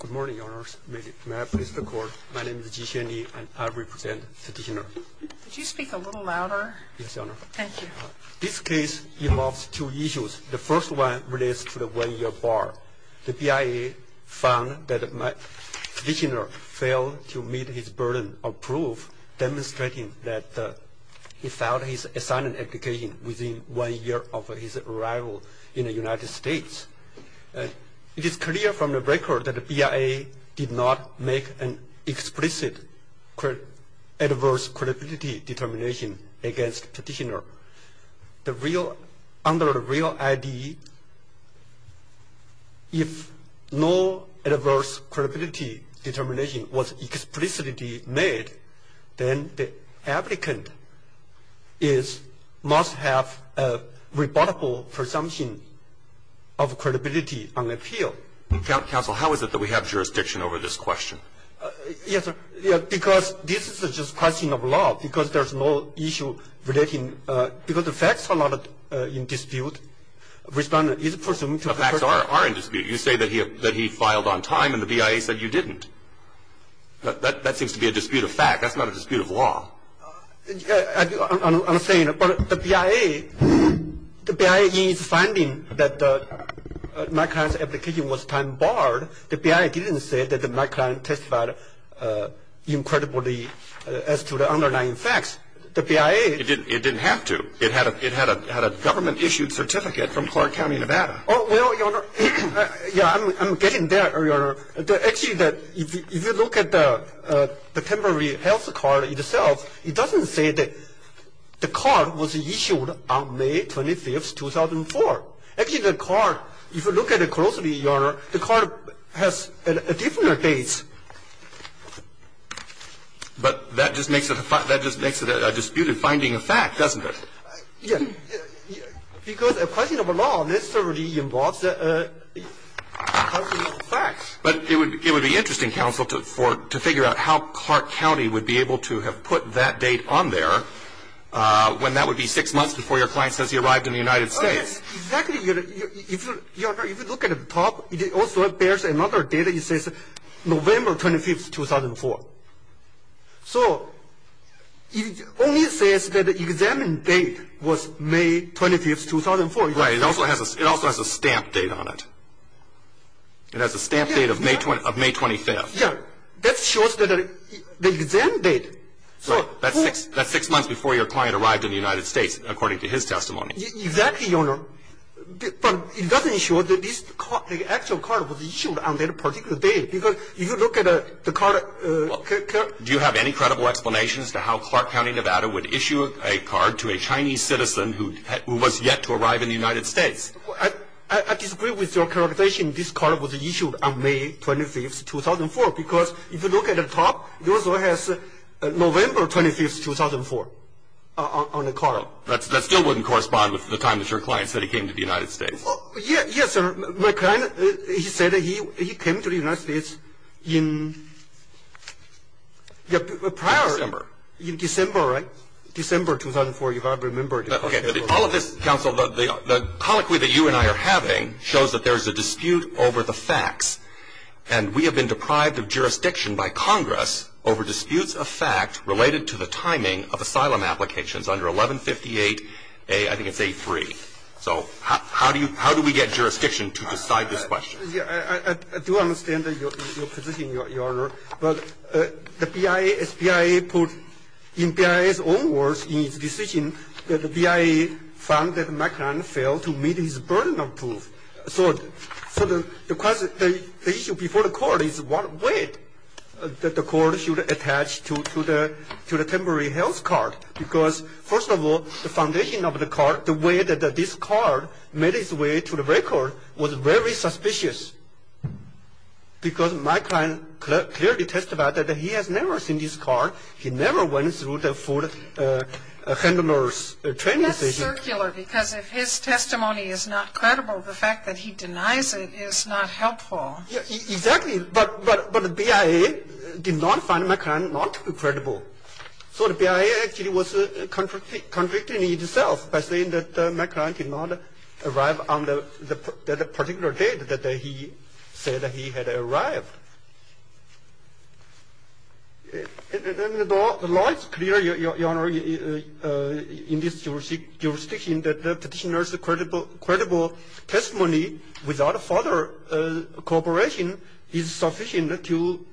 Good morning, Your Honors. May I please record, my name is Ji Xuanli and I represent the Dictioner. Could you speak a little louder? Yes, Your Honor. Thank you. This case involves two issues. The first one relates to the one-year bar. The BIA found that my Dictioner failed to meet his burden of proof, demonstrating that he filed his assignment application within one year of his arrival in the United States. It is clear from the record that the BIA did not make an explicit adverse credibility determination against the petitioner. Under the real ID, if no adverse credibility determination was explicitly made, then the applicant must have a rebuttable presumption of credibility on appeal. Counsel, how is it that we have jurisdiction over this question? Yes, because this is just a question of law, because there's no issue relating, because the facts are not in dispute. The facts are in dispute. You say that he filed on time and the BIA said you didn't. That seems to be a dispute of fact. That's not a dispute of law. I'm saying, but the BIA, the BIA is finding that my client's application was time-barred. The BIA didn't say that my client testified incredibly as to the underlying facts. The BIA. It didn't have to. It had a government-issued certificate from Clark County, Nevada. Well, Your Honor, yeah, I'm getting there, Your Honor. Actually, if you look at the temporary health card itself, it doesn't say that the card was issued on May 25, 2004. Actually, the card, if you look at it closely, Your Honor, the card has a different date. But that just makes it a disputed finding of fact, doesn't it? Because a question of law necessarily involves a question of facts. But it would be interesting, counsel, to figure out how Clark County would be able to have put that date on there when that would be six months before your client says he arrived in the United States. Exactly, Your Honor. If you look at the top, it also bears another date. It says November 25, 2004. So it only says that the exam date was May 25, 2004. Right. It also has a stamp date on it. It has a stamp date of May 25th. Yeah. That shows that the exam date. Right. That's six months before your client arrived in the United States, according to his testimony. Exactly, Your Honor. But it doesn't show that the actual card was issued on that particular date. Because if you look at the card... Do you have any credible explanations to how Clark County, Nevada, would issue a card to a Chinese citizen who was yet to arrive in the United States? I disagree with your characterization. This card was issued on May 25, 2004. Because if you look at the top, it also has November 25, 2004 on the card. That still wouldn't correspond with the time that your client said he came to the United States. Yes, sir. My client, he said he came to the United States in prior... December. In December, right? December, 2004, if I remember correctly. Okay. All of this, counsel, the colloquy that you and I are having shows that there's a dispute over the facts. And we have been deprived of jurisdiction by Congress over disputes of fact related to the timing of asylum applications under 1158A, I think it's A3. So how do we get jurisdiction to decide this question? I do understand your position, Your Honor. But the BIA, as BIA put in BIA's own words in its decision, that the BIA found that McClellan failed to meet his burden of proof. So the issue before the court is what way that the court should attach to the temporary health card. Because, first of all, the foundation of the card, the way that this card made its way to the record was very suspicious. Because my client clearly testified that he has never seen this card. He never went through the full handler's training session. That's circular, because if his testimony is not credible, the fact that he denies it is not helpful. Exactly. But the BIA did not find McClellan not credible. So the BIA actually was contradicting itself by saying that McClellan did not arrive on the particular date that he said he had arrived. And the law is clear, Your Honor, in this jurisdiction that the petitioner's credible testimony without further cooperation is sufficient to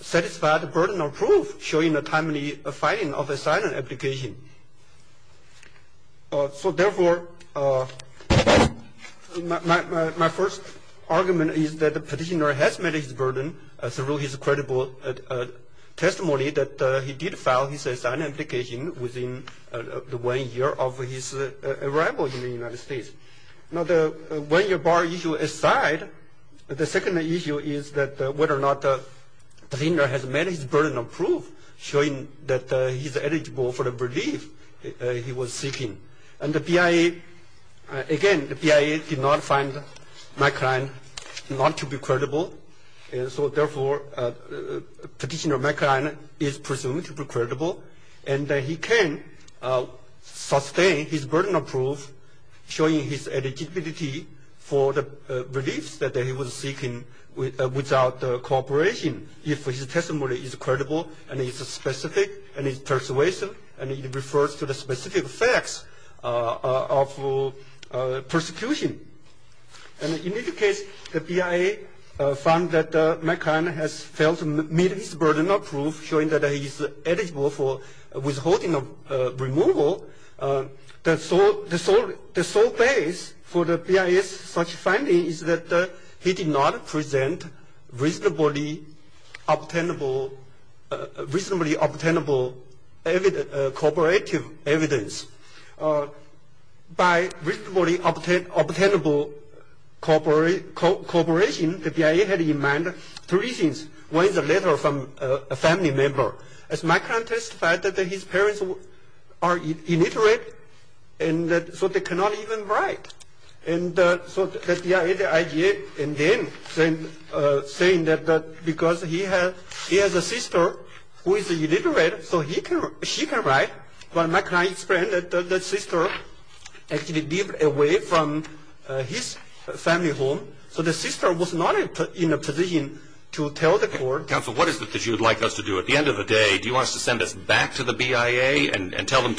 satisfy the burden of proof showing a timely finding of a silent application. So therefore, my first argument is that the petitioner has met his burden through his credible testimony that he did file his silent application within the one year of his arrival in the United States. Now, the one year bar issue aside, the second issue is that whether or not the petitioner has met his burden of proof showing that he's eligible for the relief he was seeking. And the BIA, again, the BIA did not find McClellan not to be credible. So therefore, Petitioner McClellan is presumed to be credible, and he can sustain his burden of proof showing his eligibility for the reliefs that he was seeking without cooperation, if his testimony is credible and is specific and is persuasive and it refers to the specific facts of persecution. And in this case, the BIA found that McClellan has failed to meet his burden of proof showing that he's eligible for withholding removal. The sole base for the BIA's such finding is that he did not present reasonably obtainable cooperative evidence. By reasonably obtainable cooperation, the BIA had in mind three things. One is a letter from a family member. As McClellan testified that his parents are illiterate, and so they cannot even write. And so the BIA, the IGA, and then saying that because he has a sister who is illiterate, so she can write. But McClellan explained that the sister actually lived away from his family home. So the sister was not in a position to tell the court. Counsel, what is it that you would like us to do? At the end of the day, do you want us to send this back to the BIA and tell them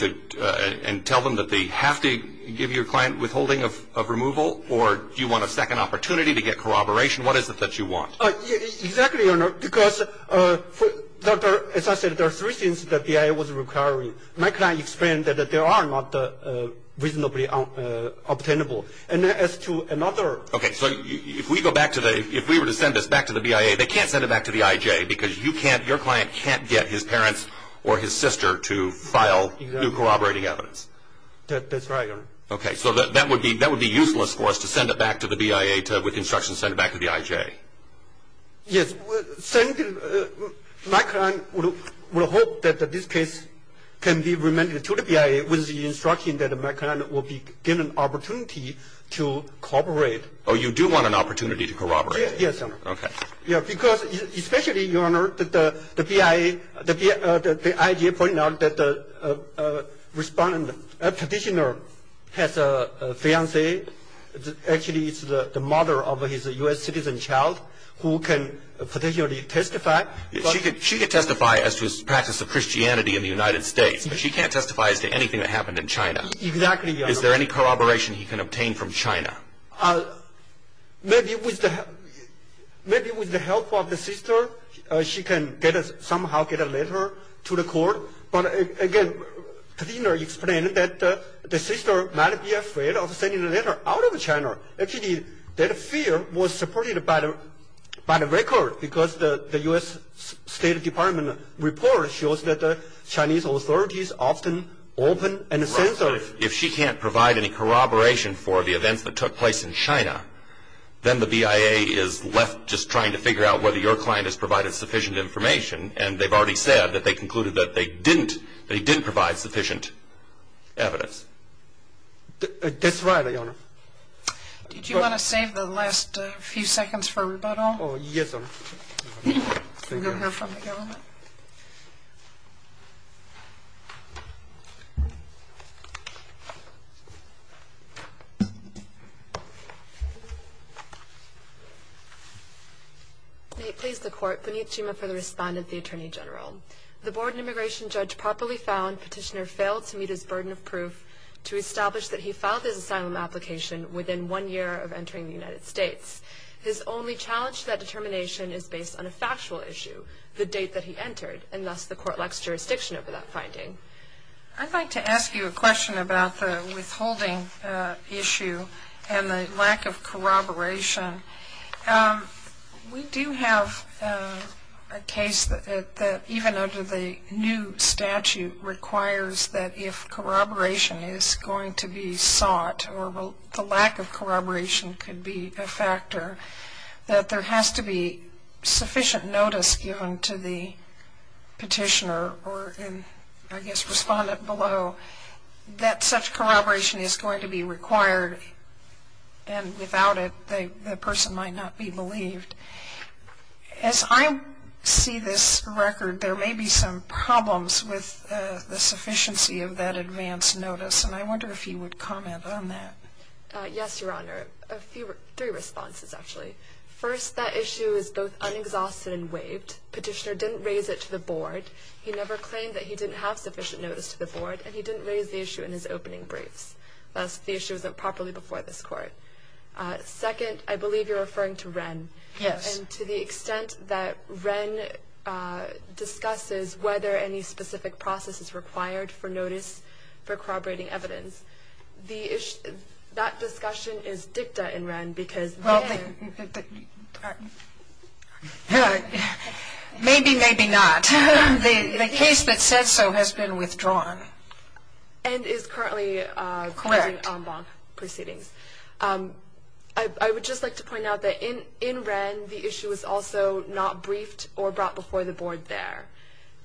that they have to give your client withholding of removal? Or do you want a second opportunity to get corroboration? What is it that you want? Exactly, Your Honor, because, as I said, there are three things that the BIA was requiring. McClellan explained that there are not reasonably obtainable. And as to another. Okay, so if we were to send this back to the BIA, they can't send it back to the IJ because your client can't get his parents or his sister to file new corroborating evidence. That's right, Your Honor. Okay, so that would be useless for us to send it back to the BIA with instructions to send it back to the IJ. Yes. McClellan will hope that this case can be remanded to the BIA with the instruction that McClellan will be given an opportunity to corroborate. Oh, you do want an opportunity to corroborate? Yes, Your Honor. Okay. Yes, because especially, Your Honor, the IJ pointed out that the respondent petitioner has a fiancé. Actually, it's the mother of his U.S. citizen child who can potentially testify. She can testify as to his practice of Christianity in the United States, but she can't testify as to anything that happened in China. Exactly, Your Honor. Is there any corroboration he can obtain from China? Maybe with the help of the sister, she can somehow get a letter to the court. But, again, the petitioner explained that the sister might be afraid of sending a letter out of China. Actually, that fear was supported by the record because the U.S. State Department report shows that the Chinese authorities often open and censor. But if she can't provide any corroboration for the events that took place in China, then the BIA is left just trying to figure out whether your client has provided sufficient information, and they've already said that they concluded that they didn't provide sufficient evidence. That's right, Your Honor. Did you want to save the last few seconds for rebuttal? Yes, Your Honor. Thank you, Your Honor. May it please the Court. Vineet Chima for the respondent, the Attorney General. The Board and immigration judge properly found petitioner failed to meet his burden of proof to establish that he filed his asylum application within one year of entering the United States. His only challenge to that determination is based on a factual issue, the date that he entered, and thus the Court lacks jurisdiction over that finding. I'd like to ask you a question about the withholding issue and the lack of corroboration. We do have a case that even under the new statute requires that if corroboration is going to be sought, or the lack of corroboration could be a factor, that there has to be sufficient notice given to the petitioner or I guess respondent below that such corroboration is going to be required, and without it the person might not be believed. As I see this record, there may be some problems with the sufficiency of that advance notice, and I wonder if you would comment on that. Yes, Your Honor. Three responses, actually. First, that issue is both unexhausted and waived. Petitioner didn't raise it to the Board. He never claimed that he didn't have sufficient notice to the Board, and he didn't raise the issue in his opening briefs. Thus, the issue isn't properly before this Court. Second, I believe you're referring to Wren. Yes. And to the extent that Wren discusses whether any specific process is required for notice, for corroborating evidence, that discussion is dicta in Wren because Wren ---- Well, maybe, maybe not. The case that said so has been withdrawn. And is currently ---- Correct. I would just like to point out that in Wren, the issue was also not briefed or brought before the Board there.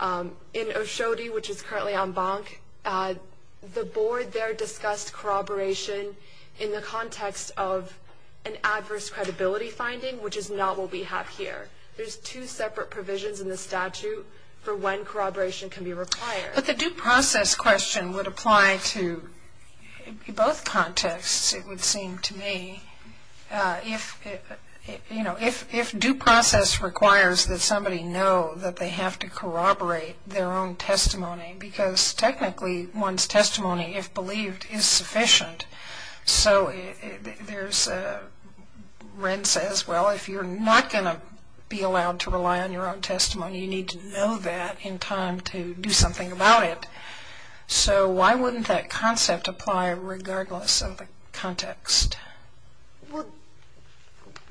In Oshodi, which is currently en banc, the Board there discussed corroboration in the context of an adverse credibility finding, which is not what we have here. There's two separate provisions in the statute for when corroboration can be required. But the due process question would apply to both contexts, it would seem to me. If, you know, if due process requires that somebody know that they have to corroborate their own testimony, because technically one's testimony, if believed, is sufficient, so there's a ---- Wren says, well, if you're not going to be allowed to rely on your own testimony, you need to know that in time to do something about it. So why wouldn't that concept apply regardless of the context? Well,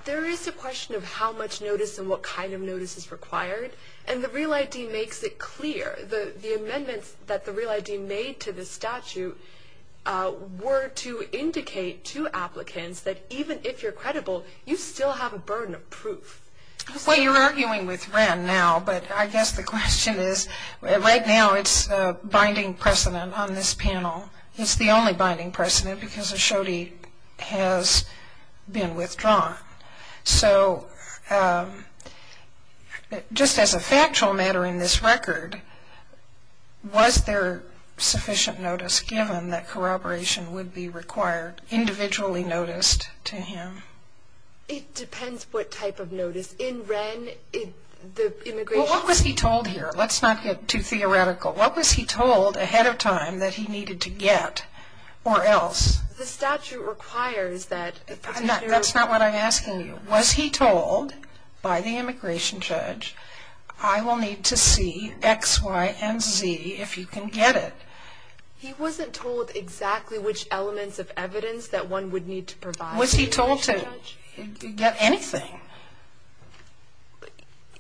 there is a question of how much notice and what kind of notice is required. And the Real ID makes it clear. The amendments that the Real ID made to the statute were to indicate to applicants that even if you're credible, you still have a burden of proof. Well, you're arguing with Wren now, but I guess the question is, right now, it's a binding precedent on this panel. It's the only binding precedent because Ashodi has been withdrawn. So just as a factual matter in this record, was there sufficient notice given that corroboration would be required, individually noticed to him? It depends what type of notice. In Wren, the immigration ---- Well, what was he told here? Let's not get too theoretical. What was he told ahead of time that he needed to get or else? The statute requires that ---- That's not what I'm asking you. Was he told by the immigration judge, I will need to see X, Y, and Z if you can get it? He wasn't told exactly which elements of evidence that one would need to provide. Was he told to get anything?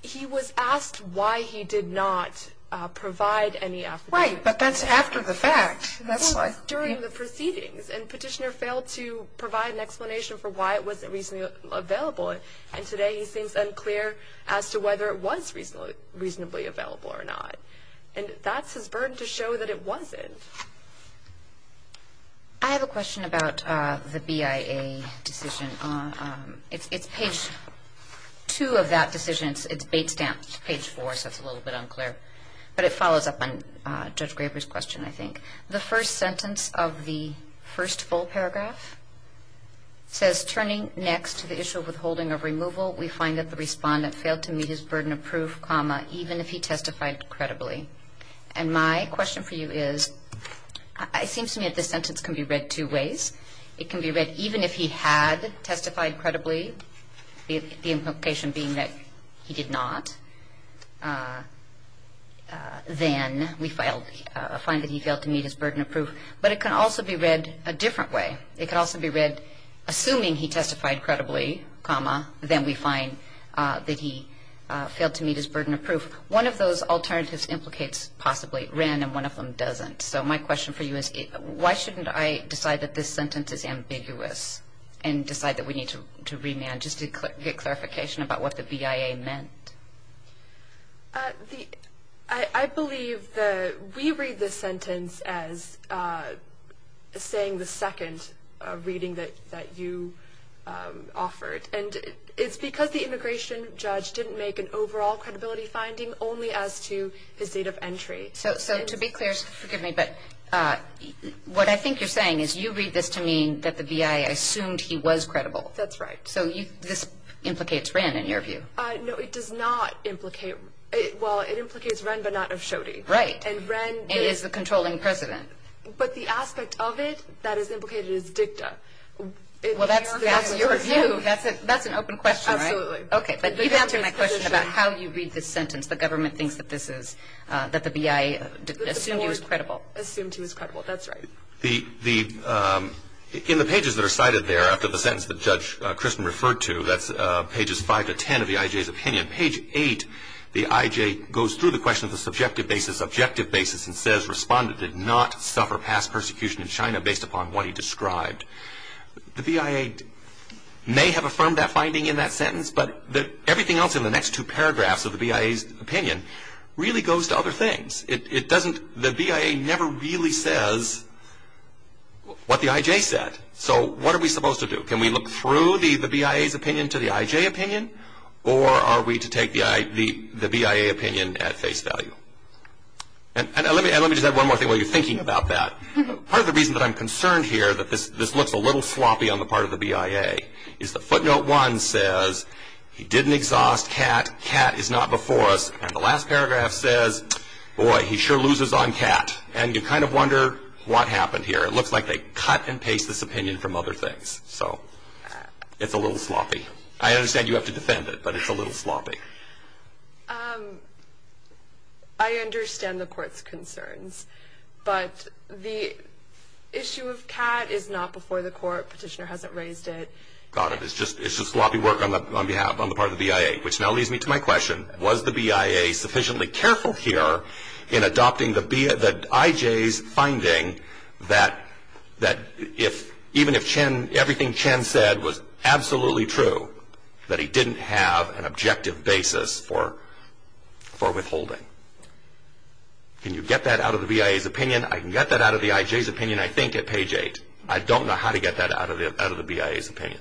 He was asked why he did not provide any evidence. Right, but that's after the fact. That's like ---- It was during the proceedings, and Petitioner failed to provide an explanation for why it wasn't reasonably available, and today he seems unclear as to whether it was reasonably available or not. And that's his burden to show that it wasn't. I have a question about the BIA decision. It's page 2 of that decision. It's bait-stamped page 4, so it's a little bit unclear. But it follows up on Judge Graber's question, I think. The first sentence of the first full paragraph says, turning next to the issue of withholding of removal, we find that the respondent failed to meet his burden of proof, comma, even if he testified credibly. And my question for you is, it seems to me that this sentence can be read two ways. It can be read, even if he had testified credibly, the implication being that he did not, then we find that he failed to meet his burden of proof. But it can also be read a different way. It can also be read, assuming he testified credibly, comma, then we find that he failed to meet his burden of proof. One of those alternatives implicates possibly Wren, and one of them doesn't. So my question for you is, why shouldn't I decide that this sentence is ambiguous and decide that we need to remand just to get clarification about what the BIA meant? I believe that we read this sentence as saying the second reading that you offered. And it's because the immigration judge didn't make an overall credibility finding only as to his date of entry. So to be clear, forgive me, but what I think you're saying is you read this to mean that the BIA assumed he was credible. That's right. So this implicates Wren, in your view. No, it does not implicate. Well, it implicates Wren, but not of Schody. Right. And Wren is the controlling president. But the aspect of it that is implicated is dicta. Well, that's your view. That's an open question, right? Absolutely. Okay, but you've answered my question about how you read this sentence. The government thinks that the BIA assumed he was credible. Assumed he was credible. That's right. In the pages that are cited there after the sentence that Judge Christen referred to, that's pages 5 to 10 of the IJ's opinion. Page 8, the IJ goes through the question of the subjective basis, and says Respondent did not suffer past persecution in China based upon what he described. The BIA may have affirmed that finding in that sentence, but everything else in the next two paragraphs of the BIA's opinion really goes to other things. The BIA never really says what the IJ said. So what are we supposed to do? Can we look through the BIA's opinion to the IJ opinion, or are we to take the BIA opinion at face value? And let me just add one more thing while you're thinking about that. Part of the reason that I'm concerned here that this looks a little sloppy on the part of the BIA, is that footnote 1 says he didn't exhaust Kat. Kat is not before us. And the last paragraph says, boy, he sure loses on Kat. And you kind of wonder what happened here. It looks like they cut and paste this opinion from other things. So it's a little sloppy. I understand you have to defend it, but it's a little sloppy. I understand the court's concerns, but the issue of Kat is not before the court. Petitioner hasn't raised it. Got it. It's just sloppy work on the part of the BIA, which now leads me to my question. Was the BIA sufficiently careful here in adopting the IJ's finding that even if everything Chen said was absolutely true, that he didn't have an objective basis for withholding? Can you get that out of the BIA's opinion? I can get that out of the IJ's opinion, I think, at page 8. I don't know how to get that out of the BIA's opinion.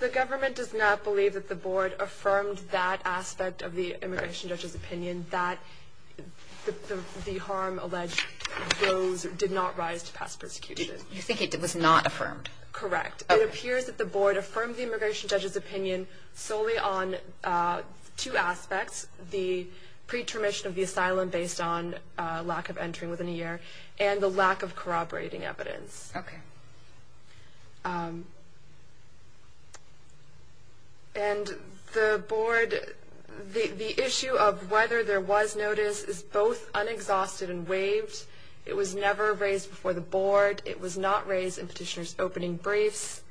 The government does not believe that the board affirmed that aspect of the immigration judge's opinion, that the harm alleged did not rise to pass persecution. You think it was not affirmed? Correct. It appears that the board affirmed the immigration judge's opinion solely on two aspects, the pre-termission of the asylum based on lack of entering within a year and the lack of corroborating evidence. Okay. And the board, the issue of whether there was notice is both unexhausted and waived. It was never raised before the board. It was not raised in petitioner's opening briefs.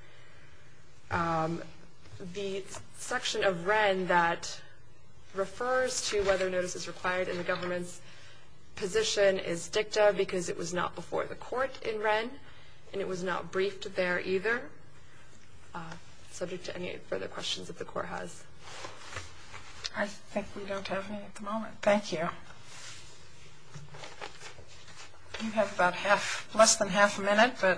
The section of WREN that refers to whether notice is required in the government's position is dicta because it was not before the court in WREN and it was not briefed there either. Subject to any further questions that the court has. I think we don't have any at the moment. Thank you. You have about half, less than half a minute. I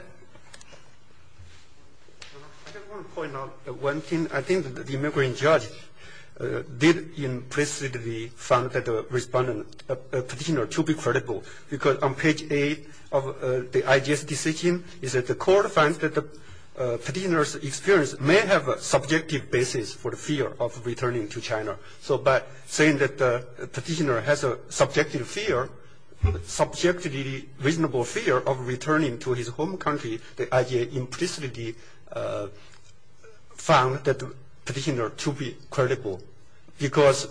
just want to point out one thing. I think the immigration judge did implicitly found that the respondent petitioner to be credible because on page 8 of the IJS decision is that the court finds that the petitioner's experience may have a subjective basis for the fear of returning to China. So by saying that the petitioner has a subjective fear, subject to the reasonable fear of returning to his home country, the IJS implicitly found that the petitioner to be credible because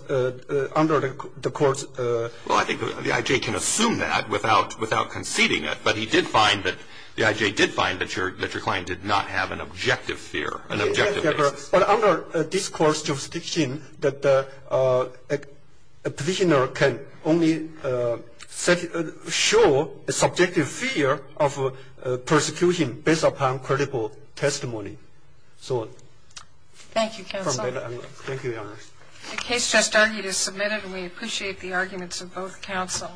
under the court's Well, I think the IJS can assume that without conceding it, but he did find that the IJS did find that your client did not have an objective fear, an objective basis. But under this court's jurisdiction, the petitioner can only show a subjective fear of persecution based upon credible testimony. Thank you, counsel. Thank you, Your Honor. The case just argued is submitted. We appreciate the arguments of both counsel.